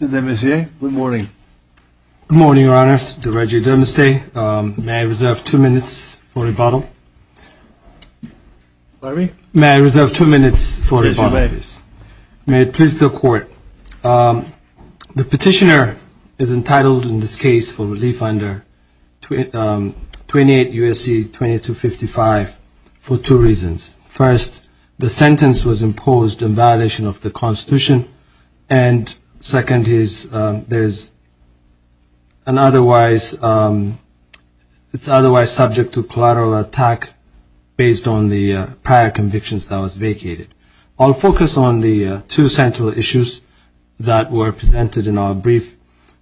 Mr. DeMessis, good morning. Good morning, Your Honor. Mr. DeReggie DeMessis, may I reserve two minutes for rebuttal? Pardon me? May I reserve two minutes for rebuttal? Yes, Your Honor. The petitioner is entitled in this case for relief under 28 U.S.C. 2255 for two reasons. First, the sentence was imposed in violation of the Constitution, and second is there's an otherwise, it's otherwise subject to collateral attack based on the prior convictions that was vacated. I'll focus on the two central issues that were presented in our brief,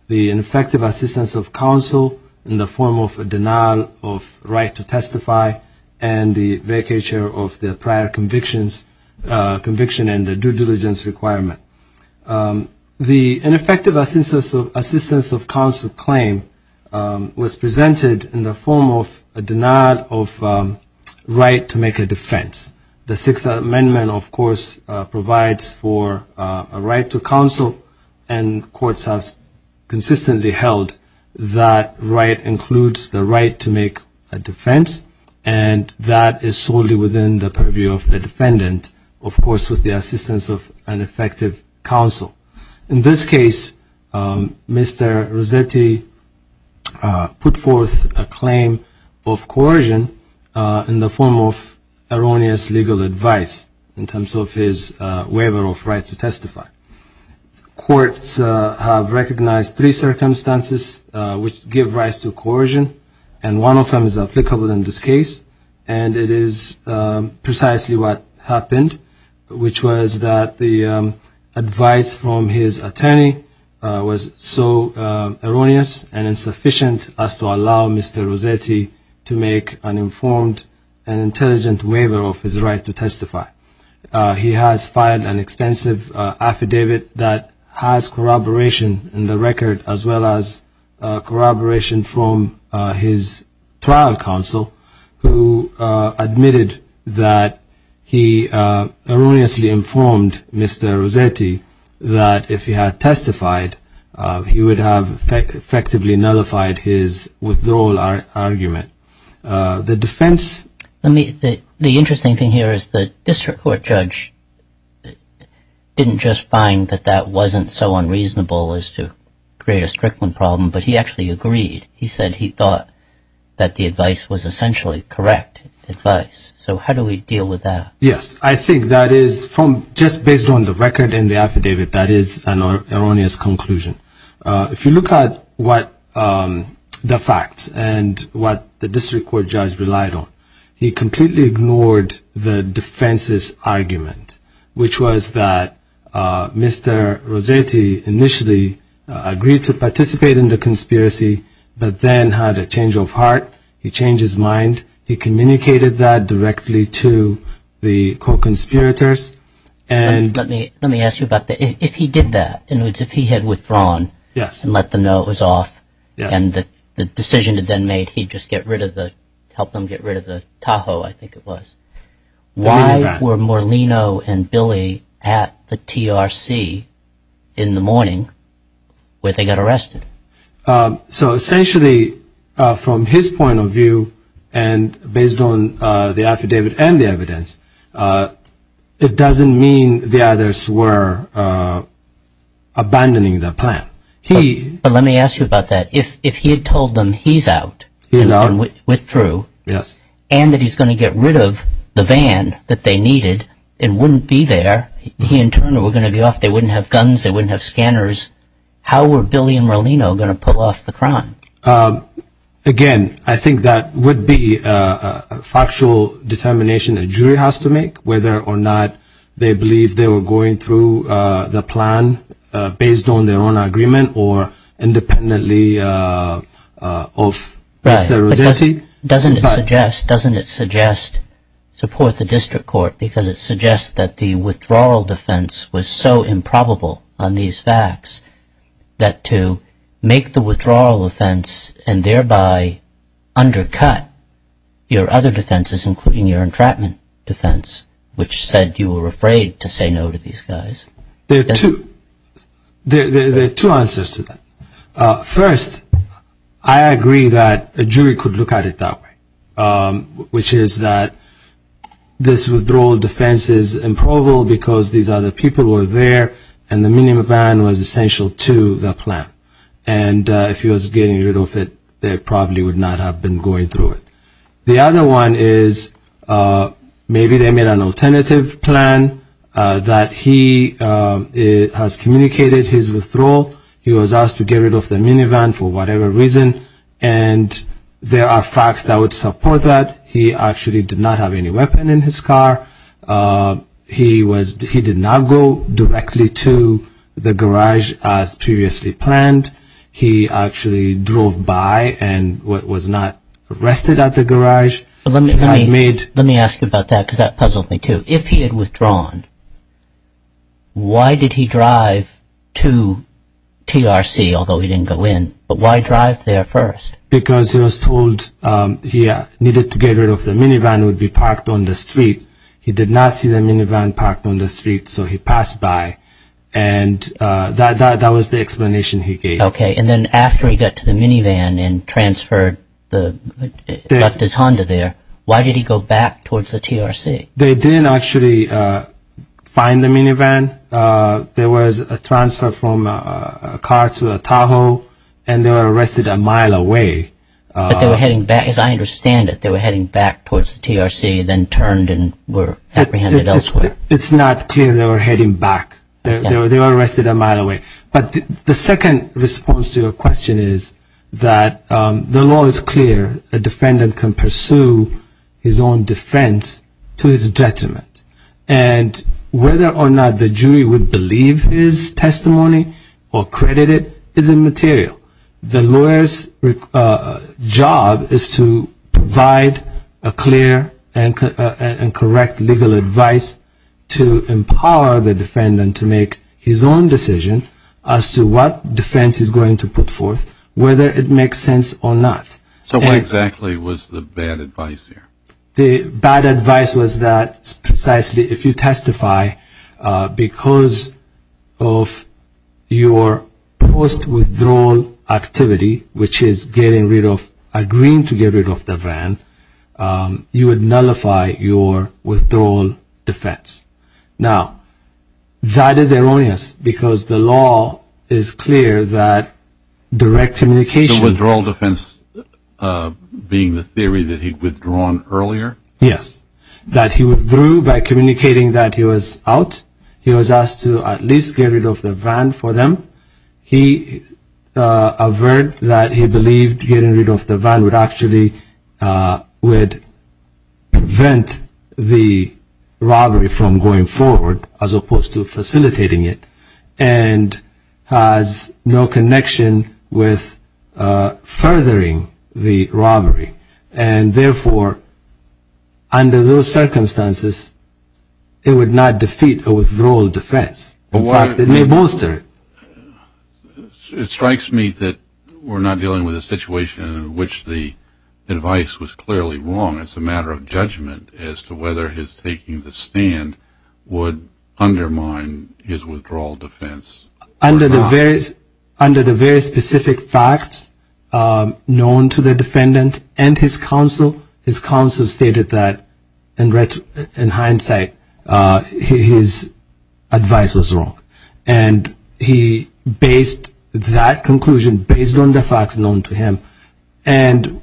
the ineffective assistance of counsel in the form of a denial of right to testify and the vacature of the prior convictions, conviction and the due diligence requirement. The ineffective assistance of counsel claim was presented in the form of a denial of right to make a defense. The Sixth Amendment, of course, provides for a right to counsel and courts have consistently held that right includes the right to make a defense, and that is solely within the purview of the defendant, of course, with the assistance of an effective counsel. In this case, Mr. Rossetti put forth a claim of coercion in the form of erroneous legal advice in terms of his waiver of right to testify. Courts have recognized three circumstances which give rise to coercion, and one of them is applicable in this case, and it is precisely what happened, which was that the advice from his attorney was so erroneous and insufficient as to allow Mr. Rossetti to make an informed and intelligent waiver of his right to testify. He has filed an extensive affidavit that has corroboration in the record as well as corroboration from his trial counsel who admitted that he erroneously informed Mr. Rossetti that if he had testified, he would have effectively nullified his withdrawal argument. The defense The interesting thing here is the district court judge didn't just find that that wasn't so unreasonable as to create a Strickland problem, but he actually agreed. He said he thought that the advice was essentially correct advice. So how do we deal with that? Yes. I think that is from just based on the record in the affidavit, that is an erroneous conclusion. If you look at what the facts and what the district court judge relied on, he completely ignored the defense's argument, which was that Mr. Rossetti initially agreed to participate in the conspiracy, but then had a change of heart. He changed his mind. He communicated that directly to the co-conspirators. Let me ask you about that. If he did that, in other words, if he had withdrawn and let them know it was off and the decision had been made, he'd just get rid of the, help them get rid of the Tahoe, I think it was. Why were Morlino and Billy at the TRC in the morning where they got arrested? So essentially from his point of view and based on the affidavit and the evidence, it doesn't mean the others were abandoning the plan. Let me ask you about that. If he had told them he's out and withdrew and that he's going to get rid of the van that they needed and wouldn't be there, he and Turner were going to be off, they wouldn't have guns, they wouldn't have scanners, how were Billy and Morlino going to pull off the crime? Again, I think that would be a factual determination a jury has to make whether or not they believe they were going through the plan based on their own agreement or independently of Mr. Rossetti. Doesn't it suggest, doesn't it suggest support the district court because it suggests that the withdrawal defense was so improbable on these facts that to make the withdrawal offense and thereby undercut your other defenses including your entrapment defense, which said you were afraid to say no to these guys? There are two answers to that. First, I agree that a jury could look at it that way, which is that this withdrawal defense is improbable because these other people were there and the minivan was essential to the plan and if he was getting rid of it, they probably would not have been going through it. The other one is maybe they made an alternative plan that he has communicated his withdrawal, he was asked to get rid of the minivan for whatever reason and there are facts that would support that. He actually did not have any weapon in his car, he did not go directly to the garage as previously planned, he actually drove by and was not arrested at the garage. Let me ask you about that because that puzzled me too. If he had withdrawn, why did he drive to TRC, although he didn't go in, but why drive there first? Because he was told he needed to get rid of the minivan, it would be parked on the street. He did not see the minivan parked on the street so he passed by and that was the explanation he gave. Okay, and then after he got to the minivan and left his Honda there, why did he go back towards the TRC? They didn't actually find the minivan, there was a transfer from a car to a Tahoe and they were arrested a mile away. But they were heading back, as I understand it, they were heading back towards the TRC and then turned and were apprehended elsewhere. It's not clear they were heading back, they were arrested a mile away. But the second response to your question is that the law is clear, a defendant can pursue his own defense to his detriment and whether or not the jury would believe his testimony or credit it is immaterial. The lawyer's job is to provide a clear and correct legal advice to empower the defendant to make his own decision as to what defense he's going to put forth, whether it makes sense or not. So what exactly was the bad advice here? The bad advice was that precisely if you testify because of your post with the jury, you are not going to be able to make your own decision. If you testify because of your withdrawal activity, which is agreeing to get rid of the van, you would nullify your withdrawal defense. Now, that is erroneous because the law is clear that direct communication... The withdrawal defense being the theory that he'd withdrawn earlier? Yes, that he withdrew by communicating that he was out, he was asked to at least get rid of the van for them. He averred that he believed getting rid of the van would actually prevent the robbery from going forward, as opposed to facilitating it, and has no connection with furthering the robbery, and therefore, under those circumstances, it would not defeat a withdrawal defense. In fact, it may bolster it. It strikes me that we're not dealing with a situation in which the advice was clearly wrong. It's a matter of judgment as to whether his taking the stand would undermine his withdrawal defense or not. Under the very specific facts known to the defendant and his counsel, his counsel stated that, in hindsight, his advice was wrong. He based that conclusion based on the facts known to him, and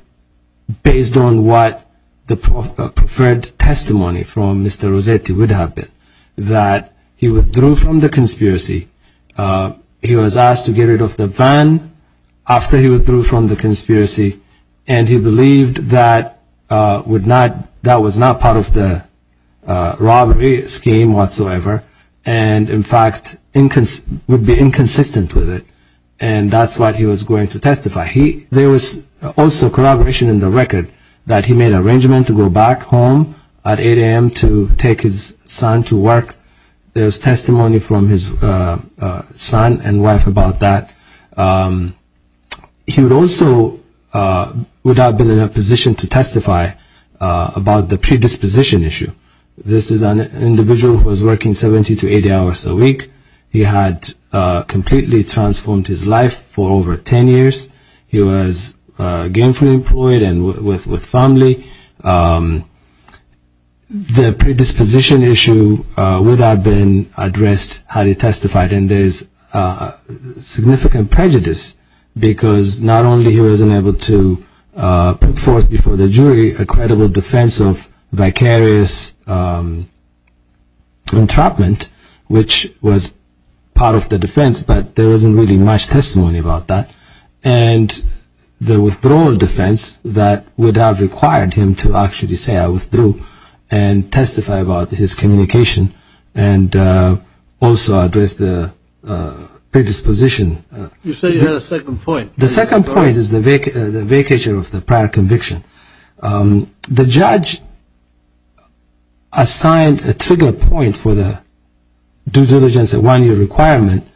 based on what the preferred testimony from Mr. Rossetti would have been, that he withdrew from the conspiracy. He was asked to get rid of the van after he withdrew from the conspiracy, and he believed that that was not part of the robbery scheme whatsoever, and in fact, would be inconsistent with it, and that's what he was going to testify. There was also corroboration in the record that he made an arrangement to go back home at 8 a.m. to take his son to work. There's testimony from his son and wife about that. He would also would have been in a position to testify about the predisposition issue. This is an individual who was working 70 to 80 hours a week. He had completely transformed his life for over 10 years. He was gainfully employed and with family. He had a very good job. The predisposition issue would have been addressed had he testified, and there's significant prejudice because not only he wasn't able to put forth before the jury a credible defense of vicarious entrapment, which was part of the defense, but there wasn't really much testimony about that, and the withdrawal defense that would have required him to actually say I withdrew and testify about his communication and also address the predisposition. You say you had a second point. The second point is the vacature of the prior conviction. The judge assigned a trigger point for the due diligence, a one-year requirement.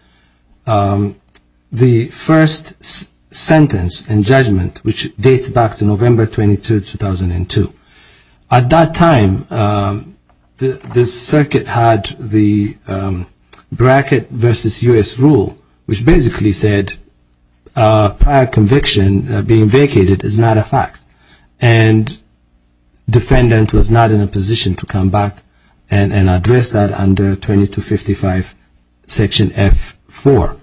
The first sentence and judgment, which dates back to November 22, 2002. At that time, the circuit had the bracket versus U.S. rule, which basically said prior conviction being vacated is not a fact, and defendant was not in a position to come back and address that under 2255 section F4.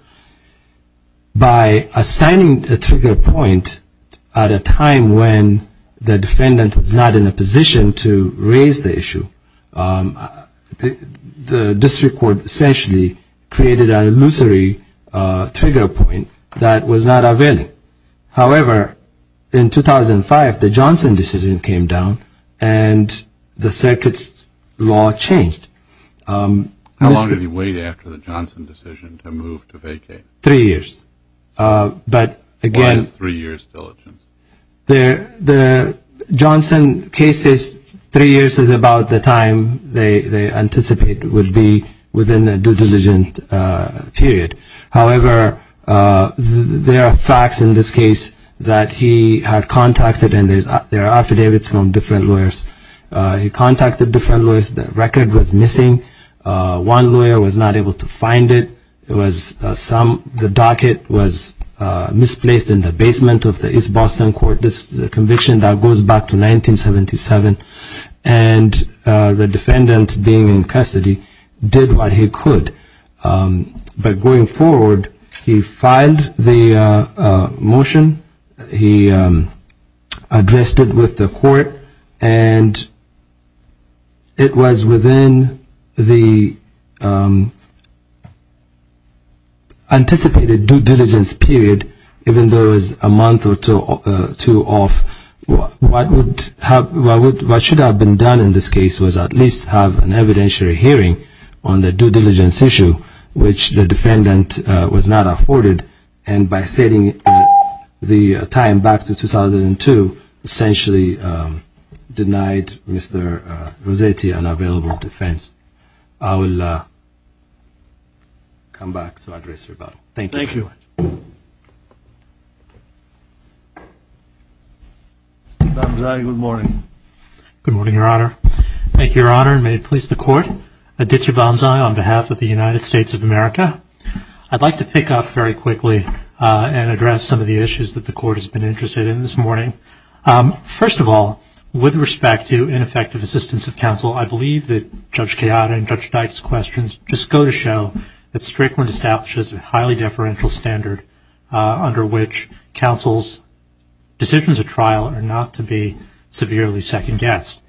By assigning a trigger point at a time when the defendant was not in a position to raise the issue, the district court essentially created an illusory trigger point that was not availing. However, in 2005, the Johnson decision came down, and the circuit's law changed. How long did he wait after the Johnson decision to move to vacate? Three years. Why is three years due diligence? The Johnson case says three years is about the time they anticipate would be within a due diligence period. However, there are facts in this case that he had contacted, and there are affidavits from different lawyers. He contacted different lawyers. The record was misplaced in the basement of the East Boston Court. This is a conviction that goes back to 1977, and the defendant, being in custody, did what he could. But going forward, he filed the motion. He addressed it with the court, and it was within the anticipated due diligence period, even though it was a month or two off. What should have been done in this case was at least have an evidentiary hearing on the due diligence issue, which the defendant was not afforded, and by setting the time back to 2002, essentially denied Mr. Rossetti an available defense. I will come back to address your body. Thank you. Thank you. Aditya Bamzai, good morning. Good morning, Your Honor. Thank you, Your Honor, and may it please the Court. Aditya Bamzai on behalf of the United States of America. I'd like to pick up very quickly and address some of the issues that the Court has been interested in this morning. First of all, with respect to ineffective assistance of counsel, I believe that Judge Chiara and Judge Dyke's questions just go to show that Strickland establishes a highly deferential standard under which counsel's decisions at trial are not to be severely second-guessed.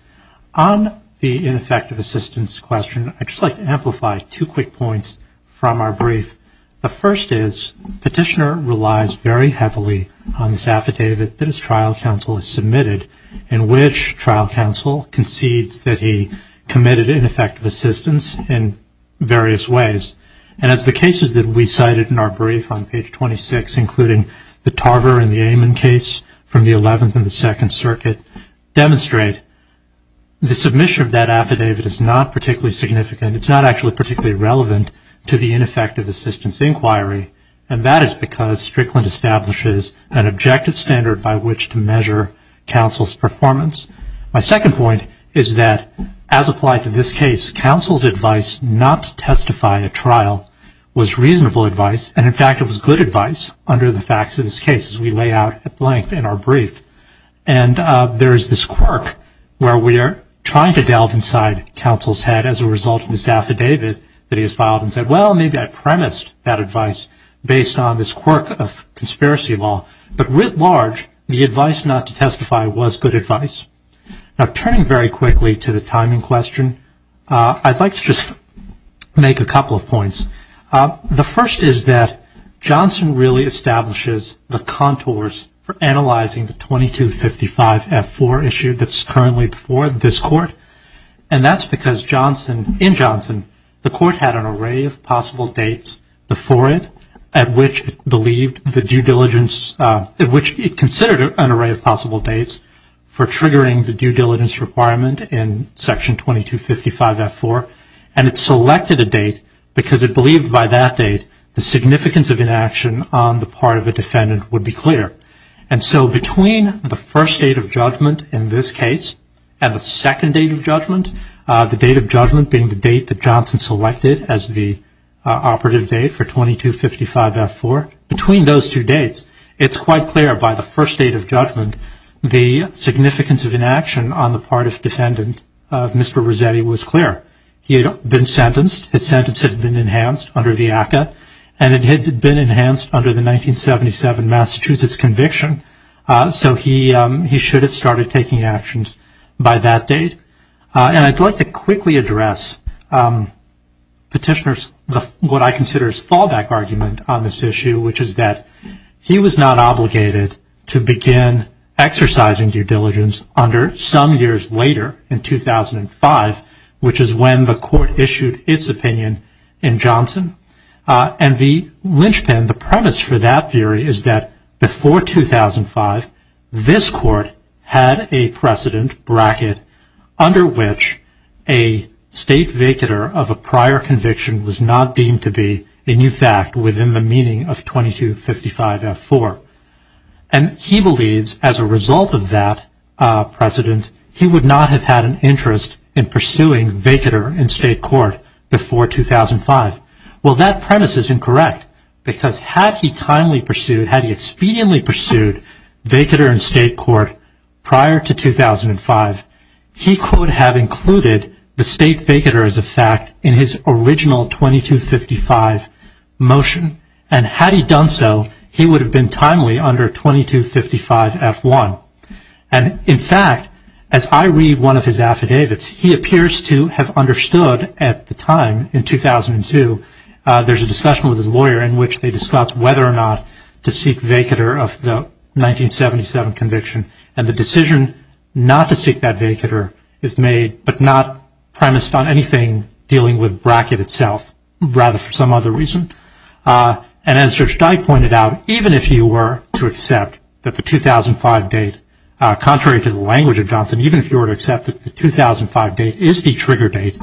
On the ineffective assistance question, I'd just like to amplify two quick points from our brief. The first is, Petitioner relies very heavily on this affidavit that his trial counsel has submitted, in which trial counsel concedes that he committed ineffective assistance in various ways. And as the cases that we cited in our brief on page 26, including the Tarver and the Amon case from the 11th and the Second Circuit, demonstrate, the submission of that affidavit is not particularly significant. It's not actually particularly relevant to the ineffective assistance inquiry, and that is because Strickland establishes an objective standard by which to measure counsel's performance. My second point is that, as applied to this case, counsel's advice not to testify at trial was reasonable advice. And in fact, it was good advice under the facts of this case, as we lay out at length in our brief. And there is this quirk where we are trying to delve inside counsel's head as a result of this affidavit that he has filed and said, well, maybe I premised that advice based on this quirk of conspiracy law. But writ large, the advice not to testify was good advice. Now, turning very quickly to the timing question, I'd like to just make a couple of points. The first is that Johnson really establishes the contours for analyzing the 2255F4 issue that's currently before this Court. And that's because in Johnson, the Court had an array of possible dates before it at which it considered an array of possible dates for triggering the due diligence requirement in Section 2255F4. And it selected a date because it believed by that date the significance of inaction on the part of a defendant would be clear. And so between the first date of judgment in this case and the second date of judgment, the date of judgment being the date that Johnson selected as the operative date for 2255F4, between those two dates, it's quite clear by the first date of judgment the significance of inaction on the part of defendant, Mr. Rossetti, was clear. He had been sentenced. His sentence had been enhanced under the ACA. And it had been enhanced under the 1977 Massachusetts conviction. So he should have started taking actions by that date. And I'd like to quickly address Petitioner's what I consider his fallback argument on this issue, which is that he was not obligated to begin exercising due diligence under some years later in 2005, which is when the Court issued its opinion in Johnson. And the linchpin, the premise for that theory is that before 2005, this Court had a precedent bracket under which a state vacater of a prior conviction was not deemed to be a new fact within the meaning of 2255F4. And he believes as a result of that precedent, he would not have had an interest in pursuing vacater in statute had he expediently pursued vacater in state court prior to 2005. He could have included the state vacater as a fact in his original 2255 motion. And had he done so, he would have been timely under 2255F1. And in fact, as I read one of his affidavits, he appears to have understood at the time in 2002, there's a discussion with his lawyer in which they discuss whether or not to seek vacater of the 1977 conviction. And the decision not to seek that vacater is made, but not premised on anything dealing with bracket itself, rather for some other reason. And as Judge Dyke pointed out, even if you were to accept that the 2005 date, contrary to the language of Johnson, even if you were to accept that the 2005 date is the trigger date,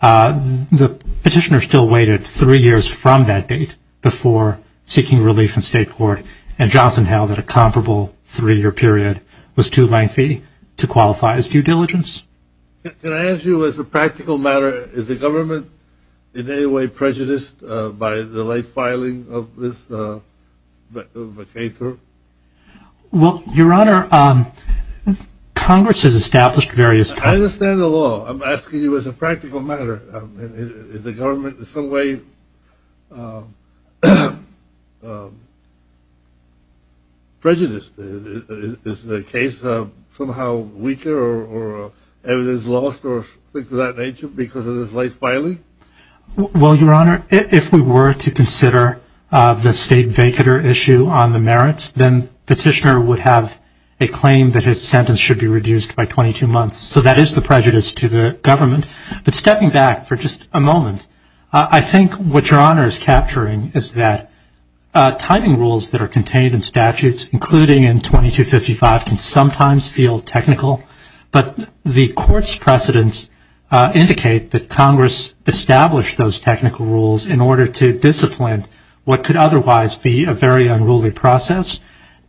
the petitioner still waited three years from that date before seeking relief in state court. And Johnson held that a comparable three-year period was too lengthy to qualify as due diligence. Can I ask you as a practical matter, is the government in any way prejudiced by the late filing of this vacater? Well, Your Honor, Congress has established various times. I understand the law. I'm asking you as a practical matter. Is the government in some way prejudiced? Is the case somehow weaker, or evidence lost, or things of that nature because of this late filing? Well, Your Honor, if we were to consider the state vacater issue on the merits, then petitioner would have a claim that his sentence should be reduced by 22 months. So that is the prejudice to the government. But stepping back for just a moment, I think what Your Honor is capturing is that timing rules that are contained in statutes, including in 2255, can sometimes feel technical. But the Court's precedents indicate that Congress established those technical rules in order to discipline what could otherwise be a very unruly process.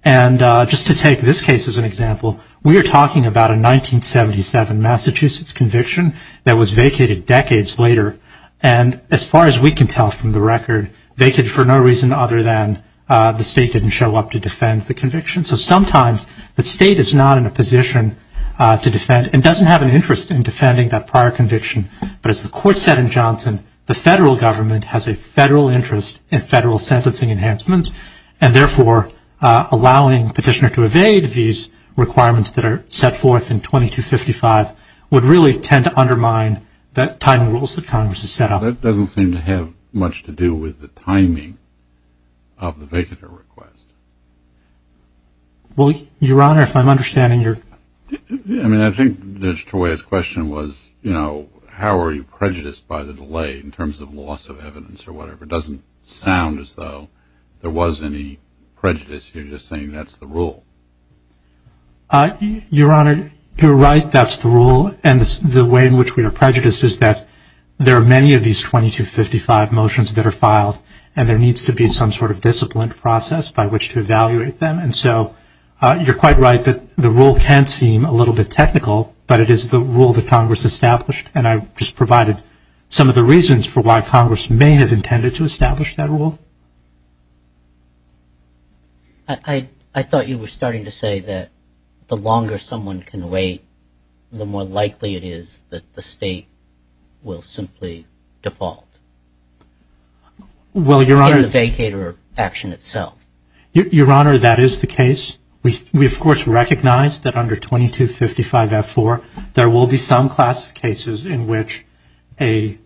And just to take this case as an example, we are talking about a 1977 Massachusetts conviction that was vacated decades later. And as far as we can tell from the record, they could for no reason other than the state didn't show up to defend the conviction. So sometimes the state is not in a position to defend and doesn't have an interest in defending that prior conviction. But as the Court said in Johnson, the federal government has a federal interest in federal sentencing enhancements. And therefore, allowing petitioner to evade these requirements that are set forth in 2255 would really tend to undermine the timing rules that Congress has set up. That doesn't seem to have much to do with the timing of the vacater request. Well, Your Honor, if I'm understanding your... I mean, I think Mr. Toey's question was, you know, how are you prejudiced by the delay in terms of loss of evidence or whatever. It doesn't sound as though there was any prejudice. You're just saying that's the rule. Your Honor, you're right, that's the rule. And the way in which we are prejudiced is that there are many of these 2255 motions that are filed, and there needs to be some sort of disciplined process by which to evaluate them. And so you're quite right that the rule can seem a little bit technical, but it is the rule that Congress established. And I have no questions for why Congress may have intended to establish that rule. I thought you were starting to say that the longer someone can wait, the more likely it is that the state will simply default in the vacater action itself. Your Honor, that is the case. We, of course, recognize that under 2255-F4, there will be some class of cases in which a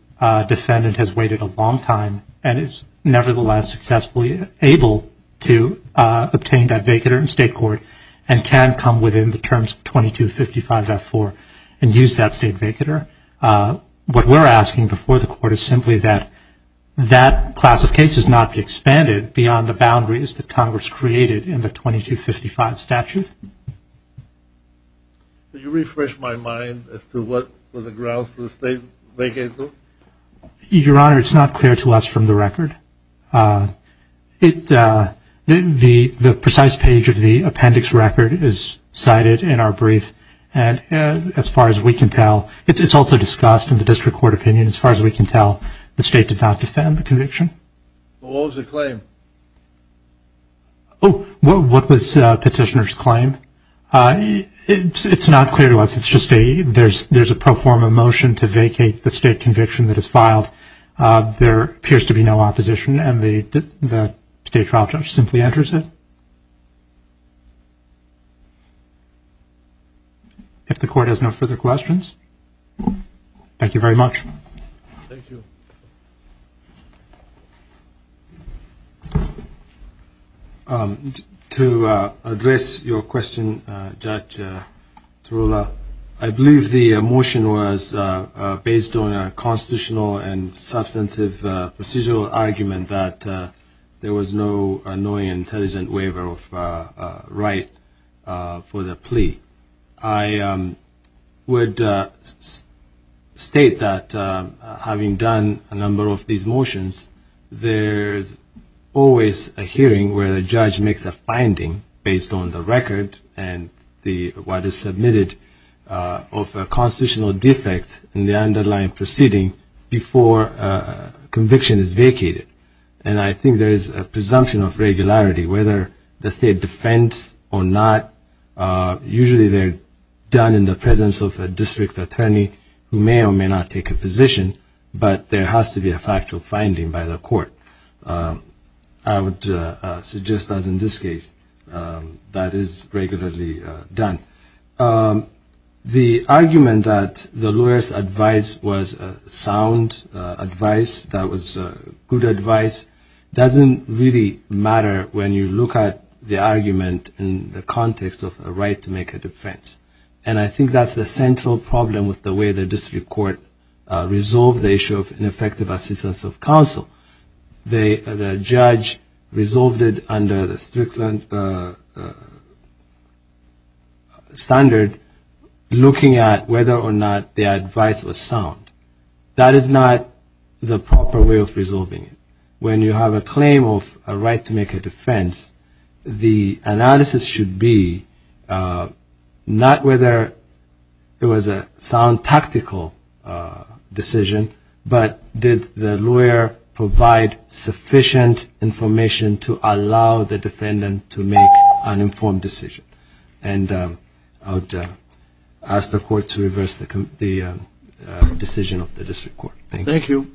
defendant has waited a long time and is nevertheless successfully able to obtain that vacater in state court and can come within the terms of 2255-F4 and use that state vacater. What we're asking before the Court is simply that that class of cases not be expanded beyond the boundaries that Congress created in the 2255 statute. Could you refresh my mind as to what was the grounds for the state vacater? Your Honor, it's not clear to us from the record. The precise page of the appendix record is cited in our brief, and as far as we can tell, it's also discussed in the district court opinion as far as we can tell, the state did not defend the conviction. What was the claim? Oh, what was petitioner's claim? It's not clear to us. It's just there's a pro forma motion to vacate the state conviction that is filed. There appears to be no opposition, and the state trial judge simply enters it. If the Court has no further questions, thank you very much. Thank you. To address your question, Judge Tarullo, I believe the motion was based on a constitutional and substantive procedural argument that there was no knowing and intelligent waiver of right for the plea. I would state that having done a number of these motions, there's always a hearing where the judge makes a finding based on the record and what is submitted of a constitutional defect in the underlying proceeding before a conviction is vacated. And I think there is a presumption of regularity whether the state defends or not. Usually they're done in the presence of a district attorney who may or may not take a position, but there has to be a factual finding by the Court. I would suggest, as in this case, that is regularly done. The argument that the lawyer's advice was sound advice, that was good advice, doesn't really matter when you look at the argument in the context of a right to make a defense. And I think that's the central problem with the way the District Court resolved the issue of ineffective assistance of counsel. The judge resolved it under the Strickland standard looking at whether or not the advice was sound. That is not the proper way of resolving it. When you have a claim of a right to make a defense, the analysis should be not whether it was a sound tactical decision, but did the lawyer provide sufficient information to allow the defendant to make an informed decision. And I would ask the Court to reverse the decision of the District Court. Thank you.